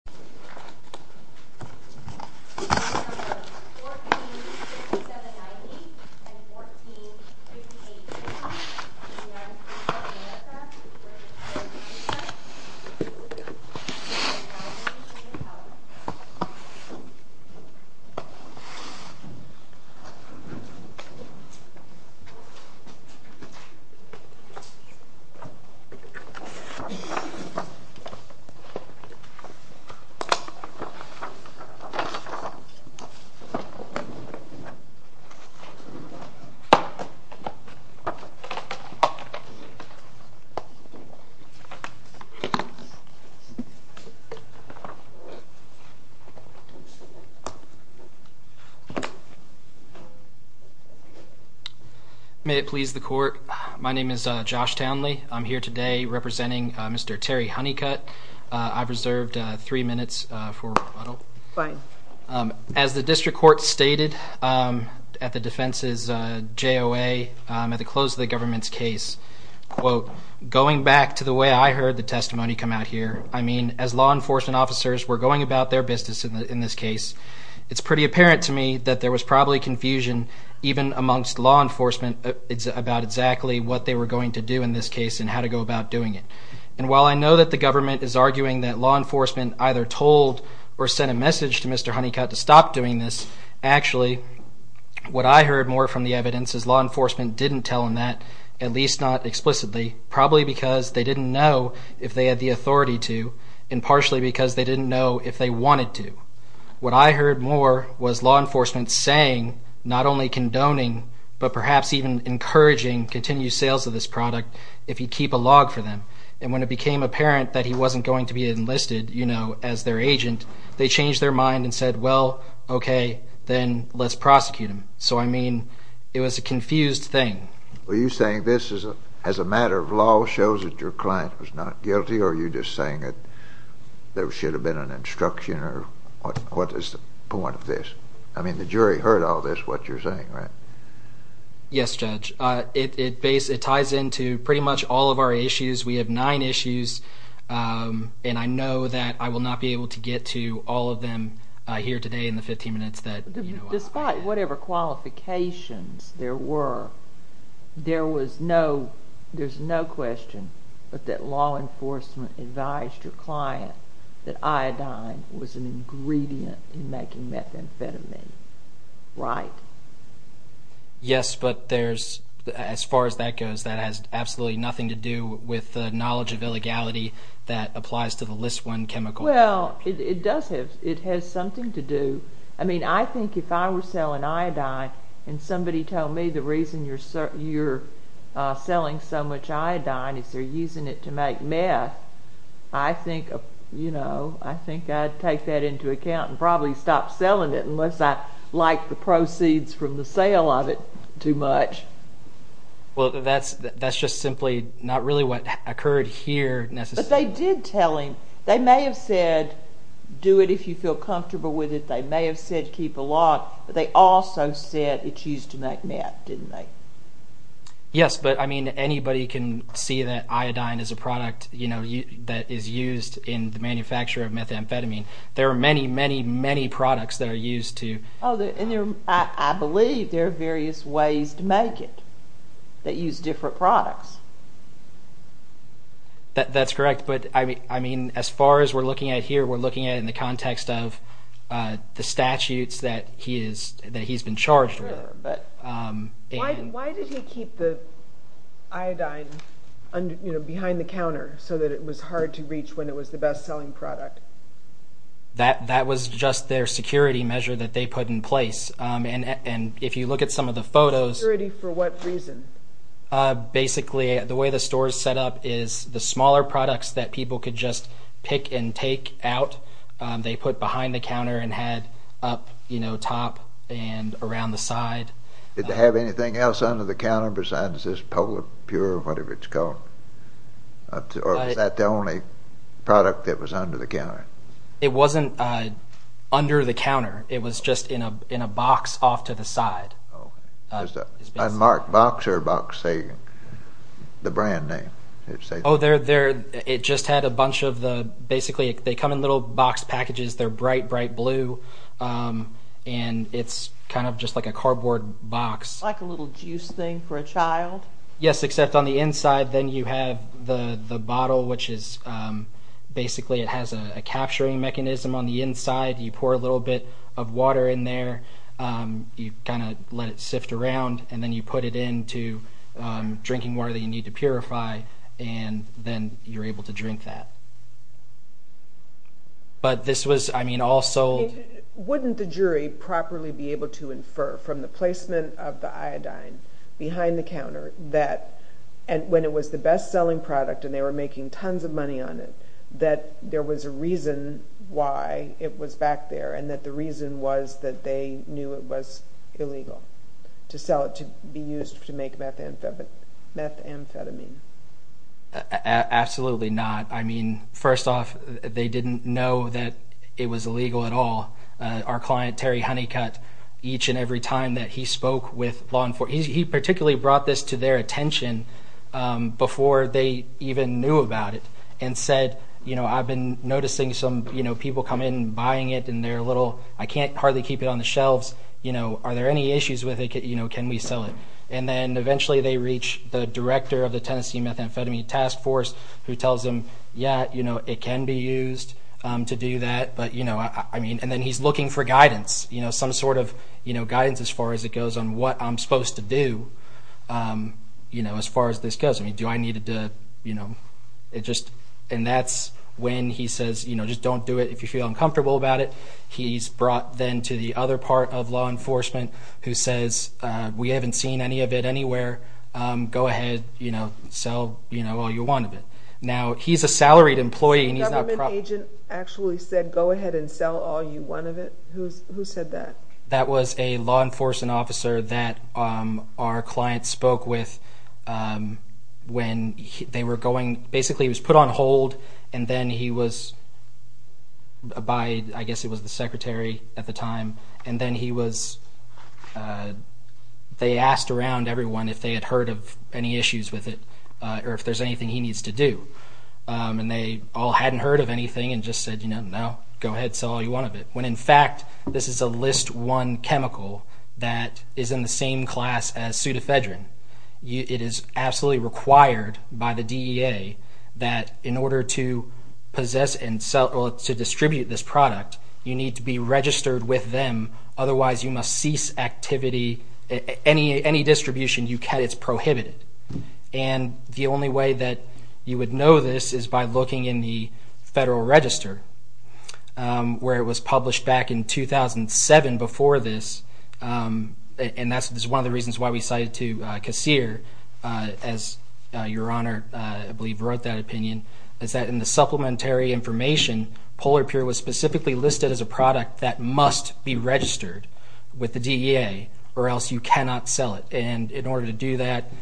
145790 and 14587 In order to support America, we urge you to sign this petition to the vote of the people and to the power of the nation, and to the republic for which it stands, one nation, under God, indivisible, with liberty and justice for all. May it please the court, my name is Josh Townley. I'm here today representing Mr. Terry Honeycutt. I've reserved three minutes for rebuttal. Fine. As the district court stated at the defense's JOA, at the close of the government's case, quote, going back to the way I heard the testimony come out here, I mean, as law enforcement officers were going about their business in this case, it's pretty apparent to me that there was probably confusion even amongst law enforcement about exactly what they were going to do in this case and how to go about doing it. And while I know that the government is arguing that law enforcement either told or sent a message to Mr. Honeycutt to stop doing this, actually, what I heard more from the evidence is law enforcement didn't tell him that, at least not explicitly, probably because they didn't know if they had the authority to, and partially because they didn't know if they wanted to. What I heard more was law enforcement saying, not only condoning, but perhaps even encouraging continued sales of this product if you keep a log for them. And when it became apparent that he wasn't going to be enlisted, you know, as their agent, they changed their mind and said, well, okay, then let's prosecute him. So, I mean, it was a confused thing. Were you saying this as a matter of law shows that your client was not guilty, or are you just saying that there should have been an instruction, or what is the point of this? I mean, the jury heard all this, what you're saying, right? Yes, Judge. It ties into pretty much all of our issues. We have nine issues, and I know that I will not be able to get to all of them here today in the 15 minutes that, you know, I have. But whatever qualifications there were, there was no, there's no question but that law enforcement advised your client that iodine was an ingredient in making methamphetamine, right? Yes, but there's, as far as that goes, that has absolutely nothing to do with the knowledge of illegality that applies to the list one chemical. Well, it does have, it has something to do, I mean, I think if I were selling iodine and somebody told me the reason you're selling so much iodine is they're using it to make meth, I think, you know, I think I'd take that into account and probably stop selling it unless I like the proceeds from the sale of it too much. Well, that's just simply not really what occurred here necessarily. Because they did tell him, they may have said do it if you feel comfortable with it, they may have said keep the law, but they also said it's used to make meth, didn't they? Yes, but I mean, anybody can see that iodine is a product, you know, that is used in the manufacture of methamphetamine. There are many, many, many products that are used to... Oh, and there, I believe there are various ways to make it that use different products. That's correct, but I mean, as far as we're looking at here, we're looking at in the context of the statutes that he's been charged with. Why did he keep the iodine, you know, behind the counter so that it was hard to reach when it was the best selling product? That was just their security measure that they put in place. And if you look at some of the photos... Security for what reason? Basically, the way the store is set up is the smaller products that people could just pick and take out, they put behind the counter and had up, you know, top and around the side. Did they have anything else under the counter besides this Polipur, whatever it's called? Or was that the only product that was under the counter? It wasn't under the counter, it was just in a box off to the side. A marked box or a box saying the brand name? Oh, it just had a bunch of the, basically, they come in little box packages, they're bright, bright blue, and it's kind of just like a cardboard box. Like a little juice thing for a child? Yes, except on the inside, then you have the bottle, which is basically, it has a capturing mechanism on the inside. You pour a little bit of water in there, you kind of let it sift around, and then you put it into drinking water that you need to purify, and then you're able to drink that. But this was, I mean, all sold... And when it was the best-selling product and they were making tons of money on it, that there was a reason why it was back there, and that the reason was that they knew it was illegal to sell it to be used to make methamphetamine. Absolutely not. I mean, first off, they didn't know that it was illegal at all. Our client, Terry Honeycutt, each and every time that he spoke with law enforcement, he particularly brought this to their attention before they even knew about it, and said, you know, I've been noticing some people come in, buying it, and they're a little, I can't hardly keep it on the shelves. Are there any issues with it? Can we sell it? And then eventually they reach the director of the Tennessee Methamphetamine Task Force, who tells them, yeah, it can be used to do that. And then he's looking for guidance, some sort of guidance as far as it goes on what I'm supposed to do as far as this goes. And that's when he says, just don't do it if you feel uncomfortable about it. He's brought then to the other part of law enforcement, who says, we haven't seen any of it anywhere. Go ahead, sell all you want of it. Now, he's a salaried employee, and he's not... The agent actually said, go ahead and sell all you want of it? Who said that? That was a law enforcement officer that our client spoke with when they were going... Basically, he was put on hold, and then he was by, I guess it was the secretary at the time. And then he was... They asked around everyone if they had heard of any issues with it, or if there's anything he needs to do. And they all hadn't heard of anything and just said, no, go ahead, sell all you want of it. When in fact, this is a list one chemical that is in the same class as pseudothedrine. It is absolutely required by the DEA that in order to possess and sell or to distribute this product, you need to be registered with them. Otherwise, you must cease activity. Any distribution you can, it's prohibited. And the only way that you would know this is by looking in the Federal Register, where it was published back in 2007 before this. And that's one of the reasons why we cited to CASEER, as Your Honor, I believe, wrote that opinion, is that in the supplementary information, Polar Pure was specifically listed as a product that must be registered with the DEA, or else you cannot sell it. And in order to do that,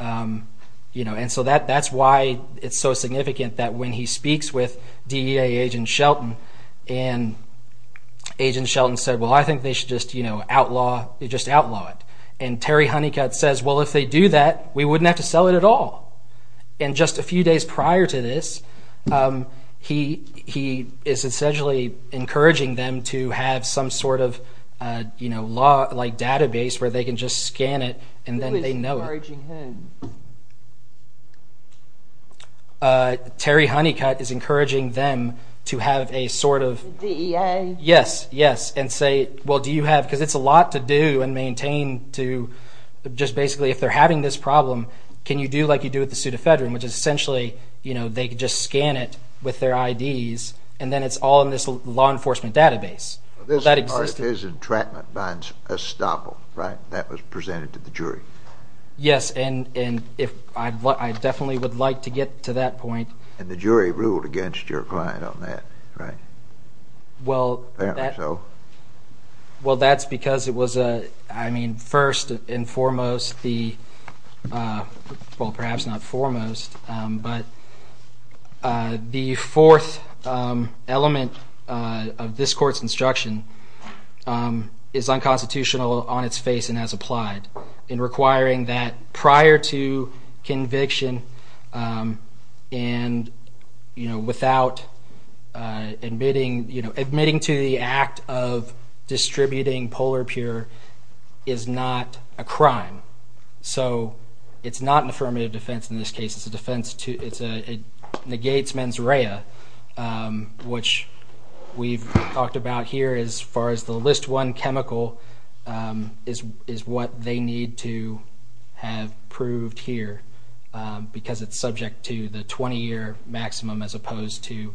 and so that's why it's so significant that when he speaks with DEA agent Shelton, and agent Shelton said, well, I think they should just outlaw it. And Terry Honeycutt says, well, if they do that, we wouldn't have to sell it at all. And just a few days prior to this, he is essentially encouraging them to have some sort of database where they can just scan it, and then they know it. Who is encouraging whom? Terry Honeycutt is encouraging them to have a sort of… The DEA? Yes, yes. And say, well, do you have, because it's a lot to do and maintain to just basically, if they're having this problem, can you do like you do with the pseudofedron, which is essentially, you know, they can just scan it with their IDs, and then it's all in this law enforcement database. This part is entrapment by estoppel, right? That was presented to the jury. Yes, and I definitely would like to get to that point. And the jury ruled against your client on that, right? Well, that's because it was, I mean, first and foremost, well, perhaps not foremost, but the fourth element of this court's instruction is unconstitutional on its face and as applied in requiring that prior to conviction and, you know, without admitting, you know, admitting to the act of distributing polar pure is not a crime. So it's not an affirmative defense in this case. It's a defense to, it negates mens rea, which we've talked about here as far as the list one chemical is what they need to have proved here because it's subject to the 20-year maximum as opposed to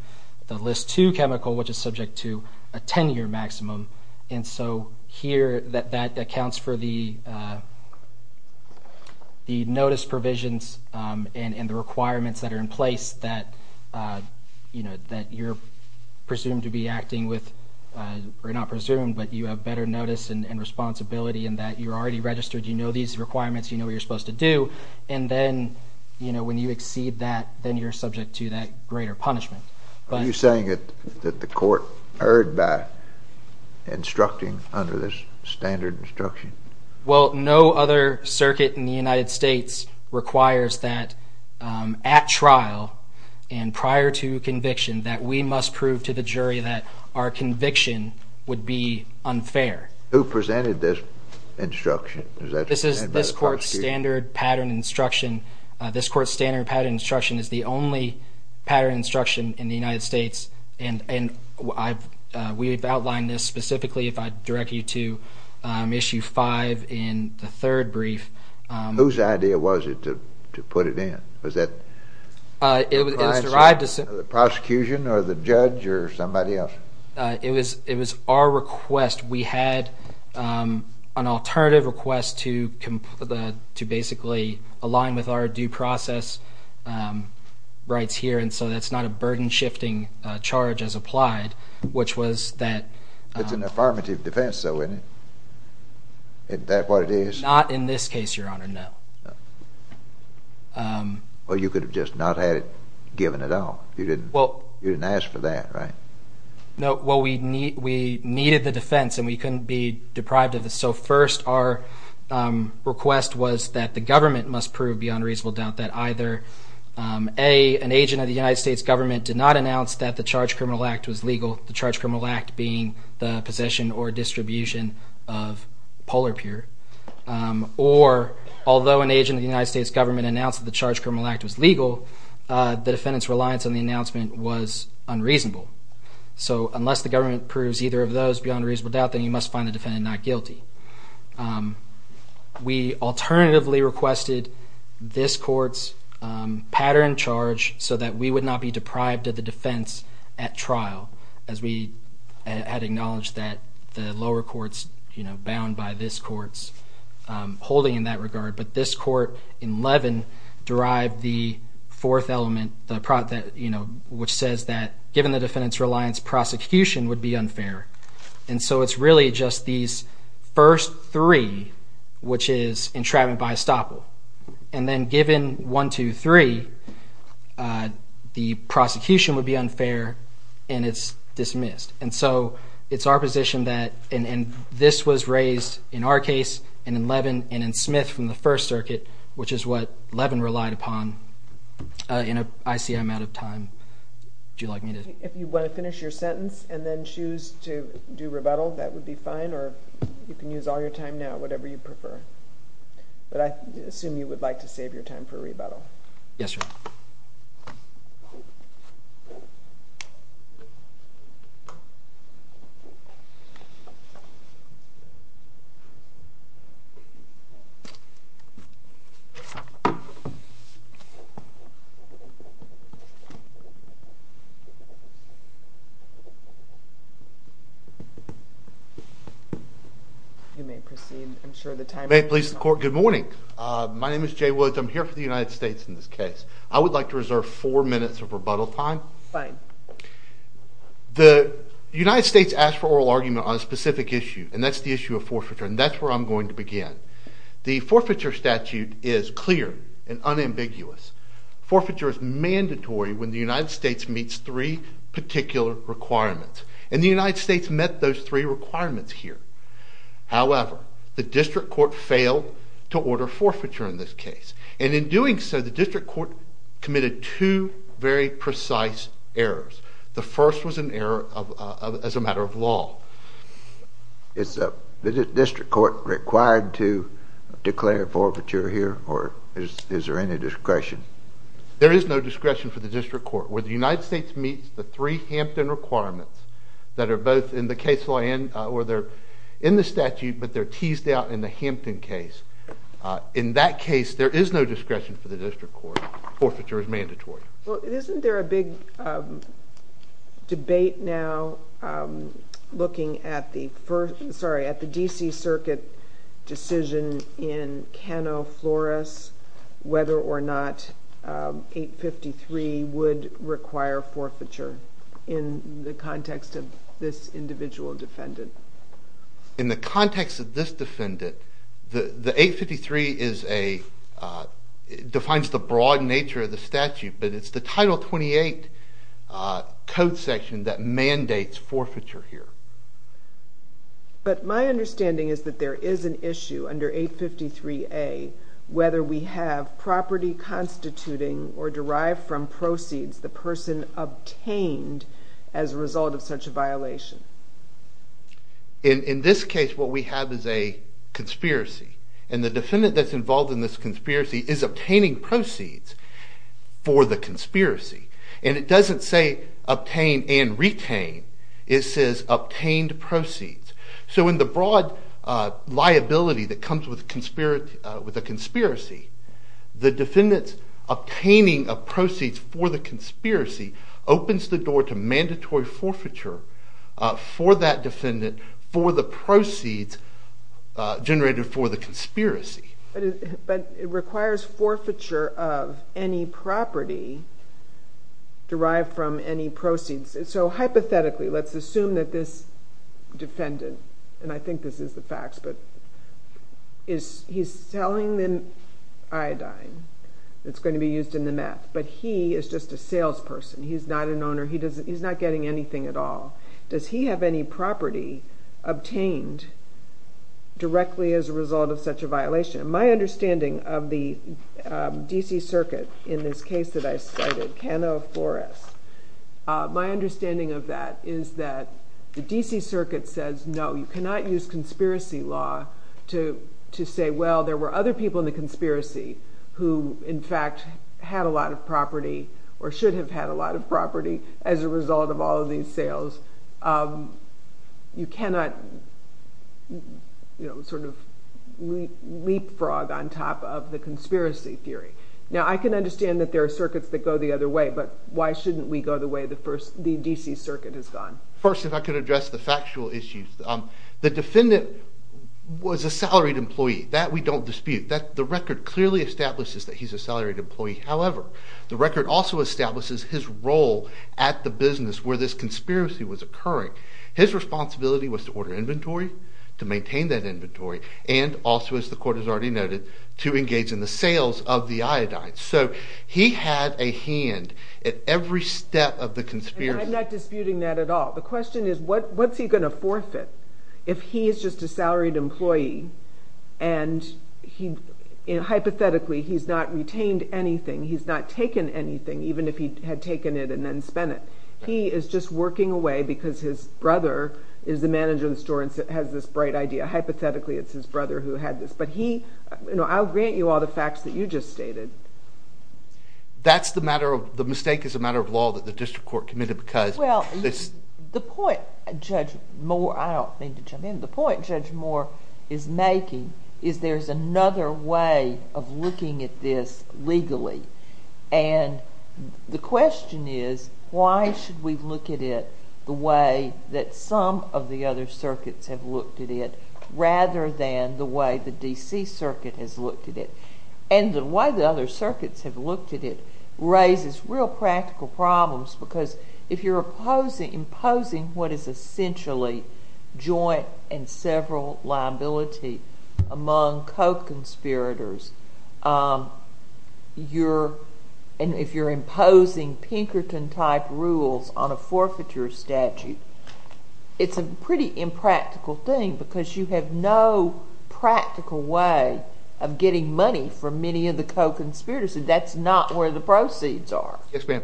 the list two chemical, which is subject to a 10-year maximum. And so here that accounts for the notice provisions and the requirements that are in place that, you know, that you're presumed to be acting with or not presumed, but you have better notice and responsibility in that you're already registered. You know these requirements. You know what you're supposed to do. And then, you know, when you exceed that, then you're subject to that greater punishment. Are you saying that the court erred by instructing under this standard instruction? Well, no other circuit in the United States requires that at trial and prior to conviction that we must prove to the jury that our conviction would be unfair. Who presented this instruction? This is this court's standard pattern instruction. This court's standard pattern instruction is the only pattern instruction in the United States, and we've outlined this specifically if I direct you to issue five in the third brief. Whose idea was it to put it in? Was that the prosecution or the judge or somebody else? It was our request. We had an alternative request to basically align with our due process rights here, and so that's not a burden-shifting charge as applied, which was that... It's an affirmative defense, though, isn't it? Is that what it is? Not in this case, Your Honor, no. Well, you could have just not had it given at all. You didn't ask for that, right? No. Well, we needed the defense, and we couldn't be deprived of this. So first our request was that the government must prove beyond reasonable doubt that either, A, an agent of the United States government did not announce that the Charged Criminal Act was legal, the Charged Criminal Act being the possession or distribution of polar pure, or although an agent of the United States government announced that the Charged Criminal Act was legal, the defendant's reliance on the announcement was unreasonable. So unless the government proves either of those beyond reasonable doubt, then you must find the defendant not guilty. We alternatively requested this court's pattern charge so that we would not be deprived of the defense at trial, as we had acknowledged that the lower courts bound by this court's holding in that regard. But this court in Levin derived the fourth element, which says that, given the defendant's reliance, prosecution would be unfair. And so it's really just these first three, which is entrapment by estoppel. And then given one, two, three, the prosecution would be unfair, and it's dismissed. And so it's our position that, and this was raised in our case and in Levin and in Smith from the First Circuit, which is what Levin relied upon, and I see I'm out of time. If you want to finish your sentence and then choose to do rebuttal, that would be fine, or you can use all your time now, whatever you prefer. But I assume you would like to save your time for rebuttal. Yes, sir. You may proceed. I'm sure the timer is on. May it please the Court, good morning. My name is Jay Woods. I'm here for the United States in this case. I would like to reserve four minutes of rebuttal time. Fine. The United States asked for oral argument on a specific issue, and that's the issue of forfeiture, and that's where I'm going to begin. The forfeiture statute is clear and unambiguous. Forfeiture is mandatory when the United States meets three particular requirements, and the United States met those three requirements here. However, the district court failed to order forfeiture in this case, and in doing so the district court committed two very precise errors. The first was an error as a matter of law. Is the district court required to declare forfeiture here, or is there any discretion? There is no discretion for the district court. Where the United States meets the three Hampton requirements that are both in the case law or they're in the statute but they're teased out in the Hampton case, in that case there is no discretion for the district court. Forfeiture is mandatory. Well, isn't there a big debate now looking at the first, sorry, at the D.C. Circuit decision in Cano Flores whether or not 853 would require forfeiture in the context of this individual defendant? In the context of this defendant, the 853 defines the broad nature of the statute, but it's the Title 28 code section that mandates forfeiture here. But my understanding is that there is an issue under 853A whether we have property constituting or derived from proceeds the person obtained as a result of such a violation. In this case what we have is a conspiracy, and the defendant that's involved in this conspiracy is obtaining proceeds for the conspiracy. And it doesn't say obtain and retain. It says obtained proceeds. So in the broad liability that comes with a conspiracy, the defendant's obtaining of proceeds for the conspiracy opens the door to mandatory forfeiture for that defendant for the proceeds generated for the conspiracy. But it requires forfeiture of any property derived from any proceeds. So hypothetically, let's assume that this defendant, and I think this is the facts, but he's selling the iodine that's going to be used in the meth, but he is just a salesperson. He's not an owner. He's not getting anything at all. Does he have any property obtained directly as a result of such a violation? And my understanding of the D.C. Circuit in this case that I cited, Cano Forest, my understanding of that is that the D.C. Circuit says, no, you cannot use conspiracy law to say, well, there were other people in the conspiracy who in fact had a lot of property or should have had a lot of property as a result of all of these sales. You cannot sort of leapfrog on top of the conspiracy theory. Now, I can understand that there are circuits that go the other way, but why shouldn't we go the way the D.C. Circuit has gone? First, if I could address the factual issues. The defendant was a salaried employee. That we don't dispute. The record clearly establishes that he's a salaried employee. However, the record also establishes his role at the business where this conspiracy was occurring. His responsibility was to order inventory, to maintain that inventory, and also, as the court has already noted, to engage in the sales of the iodine. So he had a hand at every step of the conspiracy. And I'm not disputing that at all. The question is, what's he going to forfeit if he is just a salaried employee and, hypothetically, he's not retained anything, he's not taken anything, even if he had taken it and then spent it. He is just working away because his brother is the manager of the store and has this bright idea. Hypothetically, it's his brother who had this. But he—I'll grant you all the facts that you just stated. That's the matter of—the mistake is a matter of law that the district court committed because— Well, the point, Judge Moore—I don't mean to jump in. The point Judge Moore is making is there's another way of looking at this legally. And the question is, why should we look at it the way that some of the other circuits have looked at it rather than the way the D.C. Circuit has looked at it? And the way the other circuits have looked at it raises real practical problems because if you're imposing what is essentially joint and several liability among co-conspirators, you're—and if you're imposing Pinkerton-type rules on a forfeiture statute, it's a pretty impractical thing because you have no practical way of getting money for many of the co-conspirators, and that's not where the proceeds are. Yes, ma'am.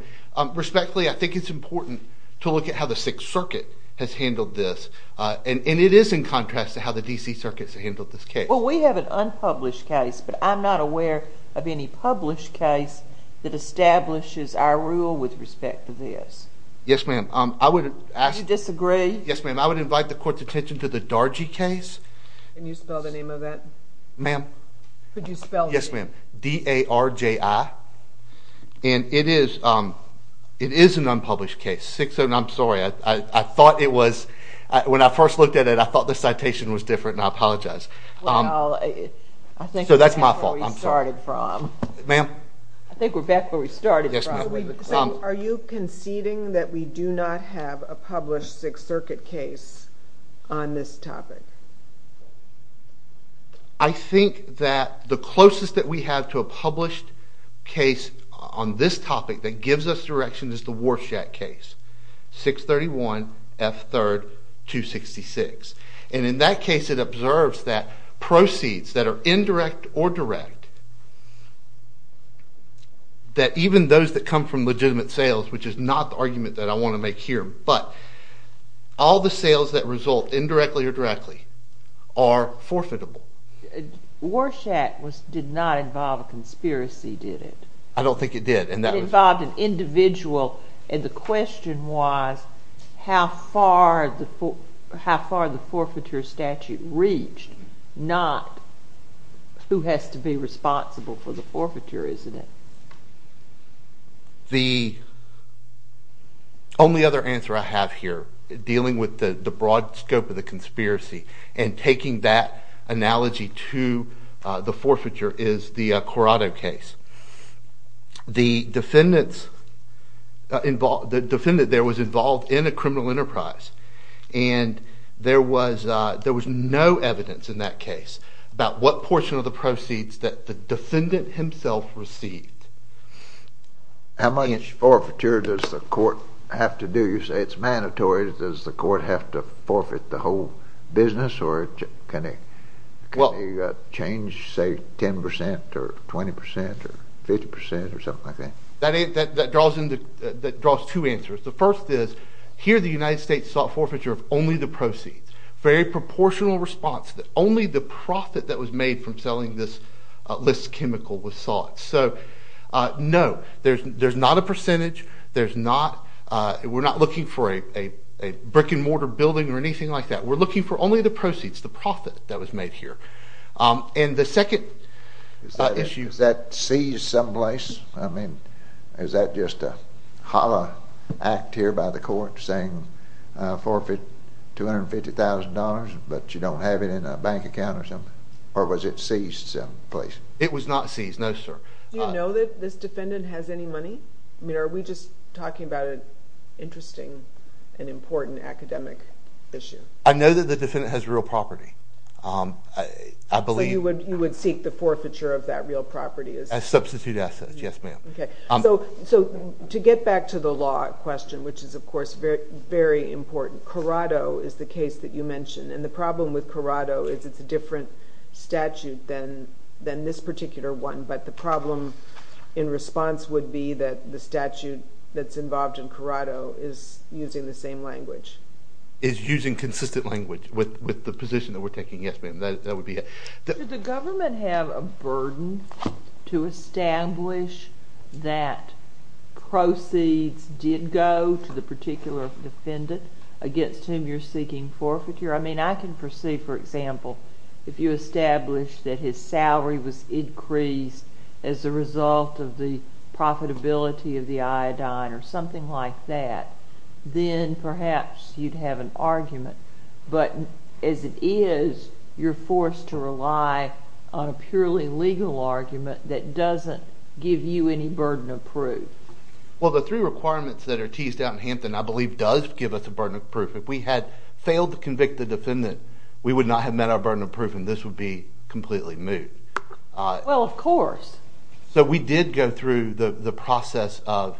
Respectfully, I think it's important to look at how the Sixth Circuit has handled this. And it is in contrast to how the D.C. Circuit has handled this case. Well, we have an unpublished case, but I'm not aware of any published case that establishes our rule with respect to this. Yes, ma'am. I would ask— Do you disagree? Yes, ma'am. I would invite the Court's attention to the Dargy case. Can you spell the name of that? Ma'am? Could you spell the name? Yes, ma'am. D-A-R-J-I. And it is an unpublished case. I'm sorry. I thought it was—when I first looked at it, I thought the citation was different, and I apologize. Well, I think we're back where we started from. So that's my fault. I'm sorry. Ma'am? I think we're back where we started from. Yes, ma'am. Are you conceding that we do not have a published Sixth Circuit case on this topic? I think that the closest that we have to a published case on this topic that gives us direction is the Warshak case, 631 F. 3rd. 266. And in that case, it observes that proceeds that are indirect or direct, that even those that come from legitimate sales, which is not the argument that I want to make here, but all the sales that result indirectly or directly are forfeitable. Warshak did not involve a conspiracy, did it? I don't think it did. It involved an individual, and the question was how far the forfeiture statute reached, not who has to be responsible for the forfeiture, isn't it? The only other answer I have here dealing with the broad scope of the conspiracy and taking that analogy to the forfeiture is the Corrado case. The defendant there was involved in a criminal enterprise, and there was no evidence in that case about what portion of the proceeds that the defendant himself received. How much forfeiture does the court have to do? 20% or 50% or something like that? That draws two answers. The first is here the United States sought forfeiture of only the proceeds, very proportional response, that only the profit that was made from selling this list chemical was sought. So no, there's not a percentage. We're not looking for a brick-and-mortar building or anything like that. We're looking for only the proceeds, the profit that was made here. And the second issue... Was that seized someplace? I mean, is that just a hollow act here by the court saying forfeit $250,000 but you don't have it in a bank account or something? Or was it seized someplace? It was not seized, no sir. Do you know that this defendant has any money? I mean, are we just talking about an interesting and important academic issue? I know that the defendant has real property. So you would seek the forfeiture of that real property? Substitute assets, yes ma'am. Okay. So to get back to the law question, which is, of course, very important, Corrado is the case that you mentioned. And the problem with Corrado is it's a different statute than this particular one. But the problem in response would be that the statute that's involved in Corrado is using the same language. Is using consistent language with the position that we're taking? Yes, ma'am. That would be it. Does the government have a burden to establish that proceeds did go to the particular defendant against whom you're seeking forfeiture? I mean, I can foresee, for example, if you establish that his salary was increased as a result of the profitability of the iodine or something like that, then perhaps you'd have an argument. But as it is, you're forced to rely on a purely legal argument that doesn't give you any burden of proof. Well, the three requirements that are teased out in Hampton, I believe, does give us a burden of proof. If we had failed to convict the defendant, we would not have met our burden of proof, and this would be completely moot. Well, of course. So we did go through the process of…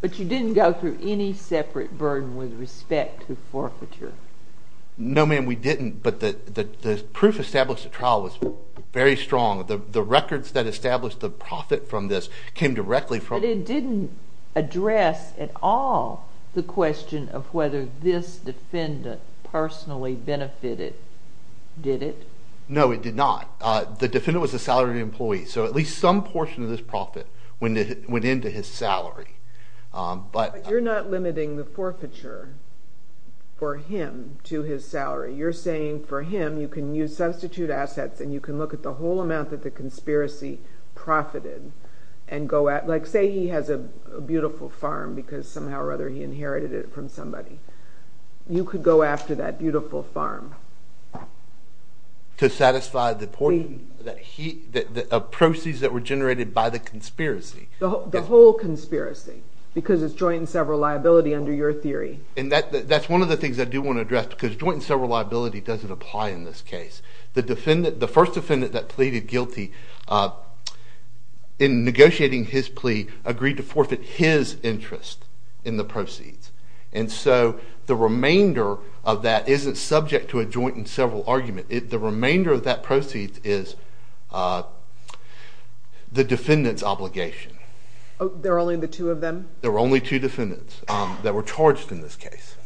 But you didn't go through any separate burden with respect to forfeiture. No, ma'am, we didn't, but the proof established at trial was very strong. The records that established the profit from this came directly from… But it didn't address at all the question of whether this defendant personally benefited, did it? No, it did not. The defendant was a salaried employee, so at least some portion of this profit went into his salary. But you're not limiting the forfeiture for him to his salary. You're saying for him, you can use substitute assets and you can look at the whole amount that the conspiracy profited and go at… Like, say he has a beautiful farm because somehow or other he inherited it from somebody. You could go after that beautiful farm. To satisfy the portion of proceeds that were generated by the conspiracy. The whole conspiracy, because it's joint and several liability under your theory. And that's one of the things I do want to address, because joint and several liability doesn't apply in this case. The first defendant that pleaded guilty in negotiating his plea agreed to forfeit his interest in the proceeds. And so the remainder of that isn't subject to a joint and several argument. The remainder of that proceeds is the defendant's obligation. There were only the two of them? There were only two defendants that were charged in this case.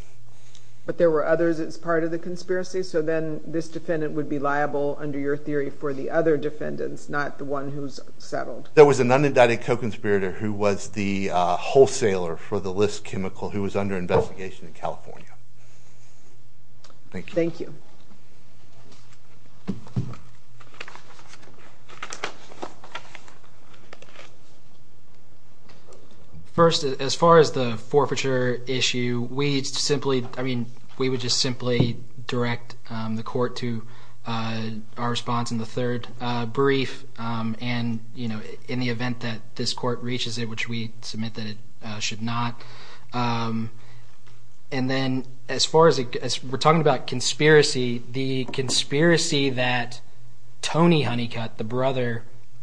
But there were others as part of the conspiracy? So then this defendant would be liable under your theory for the other defendants, not the one who's settled. There was an unindicted co-conspirator who was the wholesaler for the list chemical who was under investigation in California. Thank you. Thank you. First, as far as the forfeiture issue, we simply – I mean, we would just simply direct the court to our response in the third brief. And in the event that this court reaches it, which we submit that it should not. And then as far as – we're talking about conspiracy. The conspiracy that Tony Honeycutt, the brother,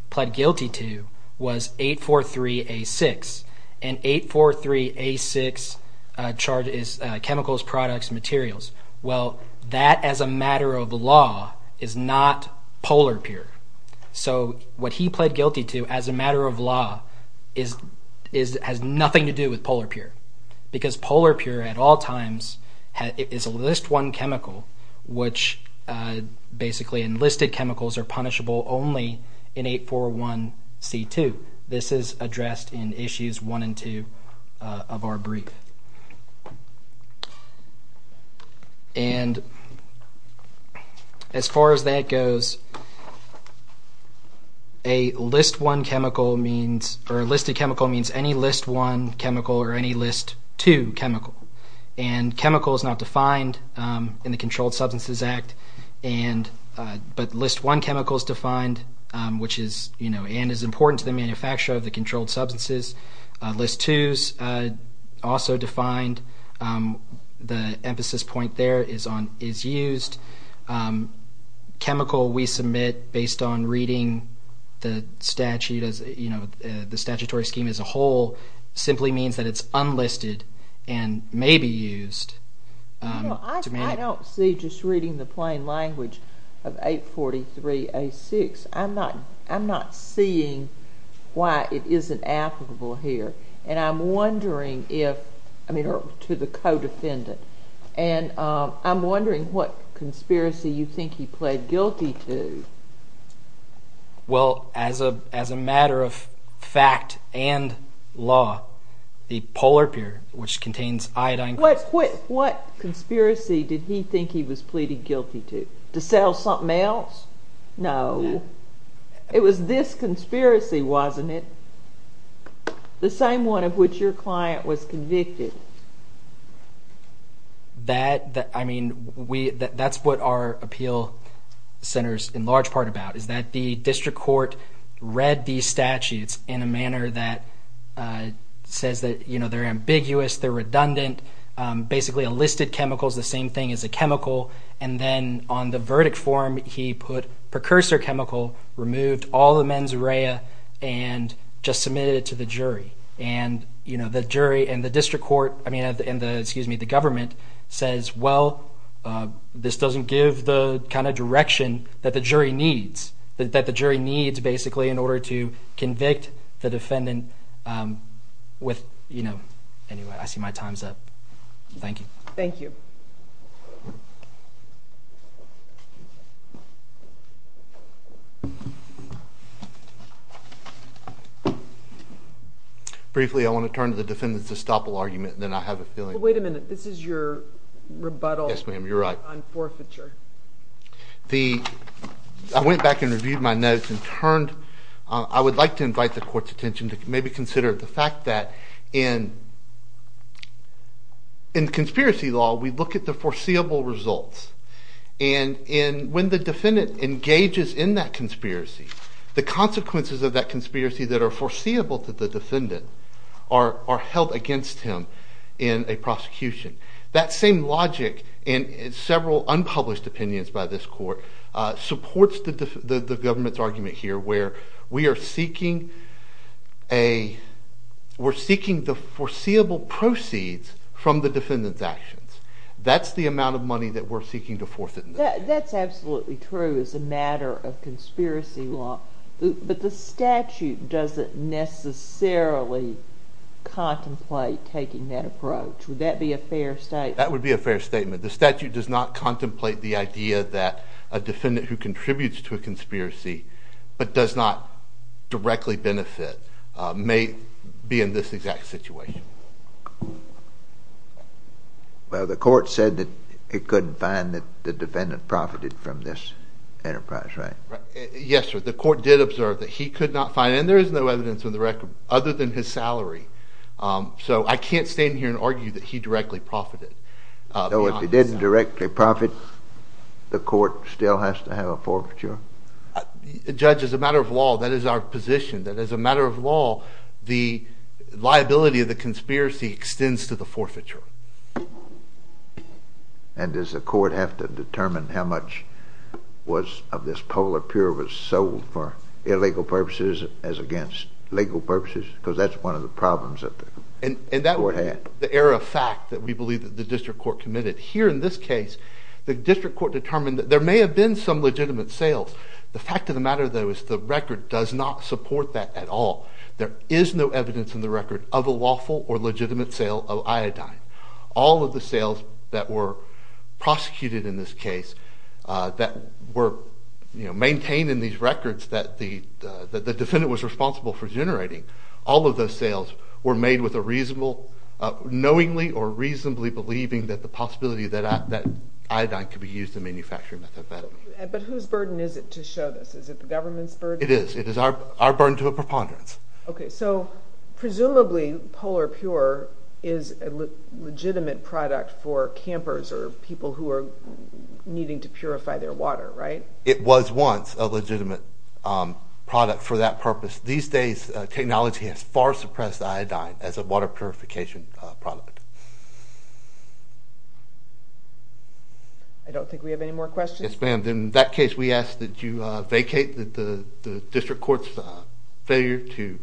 pled guilty to was 843A6. And 843A6 charges chemicals, products, materials. Well, that as a matter of law is not polar pure. So what he pled guilty to as a matter of law has nothing to do with polar pure. Because polar pure at all times is a list one chemical, which basically enlisted chemicals are punishable only in 841C2. This is addressed in issues one and two of our brief. And as far as that goes, a list one chemical means – or enlisted chemical means any list one chemical or any list two chemical. And chemical is not defined in the Controlled Substances Act. But list one chemical is defined, which is – and is important to the manufacture of the controlled substances. List two is also defined. The emphasis point there is on – is used. Chemical we submit based on reading the statute as – the statutory scheme as a whole simply means that it's unlisted and may be used. I don't see just reading the plain language of 843A6. I'm not seeing why it isn't applicable here. And I'm wondering if – I mean to the co-defendant. And I'm wondering what conspiracy you think he pled guilty to. Well, as a matter of fact and law, the polar pure, which contains iodine… What conspiracy did he think he was pleading guilty to? To sell something else? No. It was this conspiracy, wasn't it? The same one of which your client was convicted. That – I mean we – that's what our appeal centers in large part about is that the district court read these statutes in a manner that says that, you know, they're ambiguous. They're redundant. Basically, a listed chemical is the same thing as a chemical. And then on the verdict form, he put precursor chemical, removed all the mens rea, and just submitted it to the jury. And, you know, the jury and the district court – I mean and the, excuse me, the government says, well, this doesn't give the kind of direction that the jury needs. That the jury needs basically in order to convict the defendant with, you know – anyway, I see my time's up. Thank you. Thank you. Briefly, I want to turn to the defendant's estoppel argument and then I have a feeling. Wait a minute. This is your rebuttal on forfeiture. Yes, ma'am. You're right. I went back and reviewed my notes and turned – I would like to invite the court's attention to maybe consider the fact that in conspiracy law, we look at the foreseeable results. And when the defendant engages in that conspiracy, the consequences of that conspiracy that are foreseeable to the defendant are held against him in a prosecution. That same logic in several unpublished opinions by this court supports the government's argument here where we are seeking a – we're seeking the foreseeable proceeds from the defendant's actions. That's the amount of money that we're seeking to forfeit. That's absolutely true as a matter of conspiracy law. But the statute doesn't necessarily contemplate taking that approach. Would that be a fair statement? That would be a fair statement. The statute does not contemplate the idea that a defendant who contributes to a conspiracy but does not directly benefit may be in this exact situation. Well, the court said that it couldn't find that the defendant profited from this enterprise, right? Yes, sir. The court did observe that he could not find – and there is no evidence in the record other than his salary. So I can't stand here and argue that he directly profited. So if he didn't directly profit, the court still has to have a forfeiture? Judge, as a matter of law, that is our position, that as a matter of law, the liability of the conspiracy extends to the forfeiture. And does the court have to determine how much of this Polar Pure was sold for illegal purposes as against legal purposes? Because that's one of the problems that the court had. And that would be the error of fact that we believe that the district court committed. Here in this case, the district court determined that there may have been some legitimate sales. The fact of the matter, though, is the record does not support that at all. There is no evidence in the record of a lawful or legitimate sale of iodine. All of the sales that were prosecuted in this case that were maintained in these records that the defendant was responsible for generating, all of those sales were made with a reasonable, knowingly or reasonably believing that the possibility that iodine could be used in manufacturing methadone. But whose burden is it to show this? Is it the government's burden? It is. It is our burden to a preponderance. Okay, so presumably Polar Pure is a legitimate product for campers or people who are needing to purify their water, right? It was once a legitimate product for that purpose. These days, technology has far suppressed iodine as a water purification product. I don't think we have any more questions. Yes, ma'am. In that case, we ask that you vacate the district court's failure to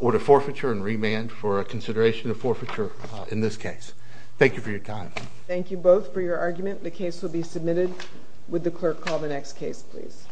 order forfeiture and remand for consideration of forfeiture in this case. Thank you for your time. Thank you both for your argument. The case will be submitted. Would the clerk call the next case, please?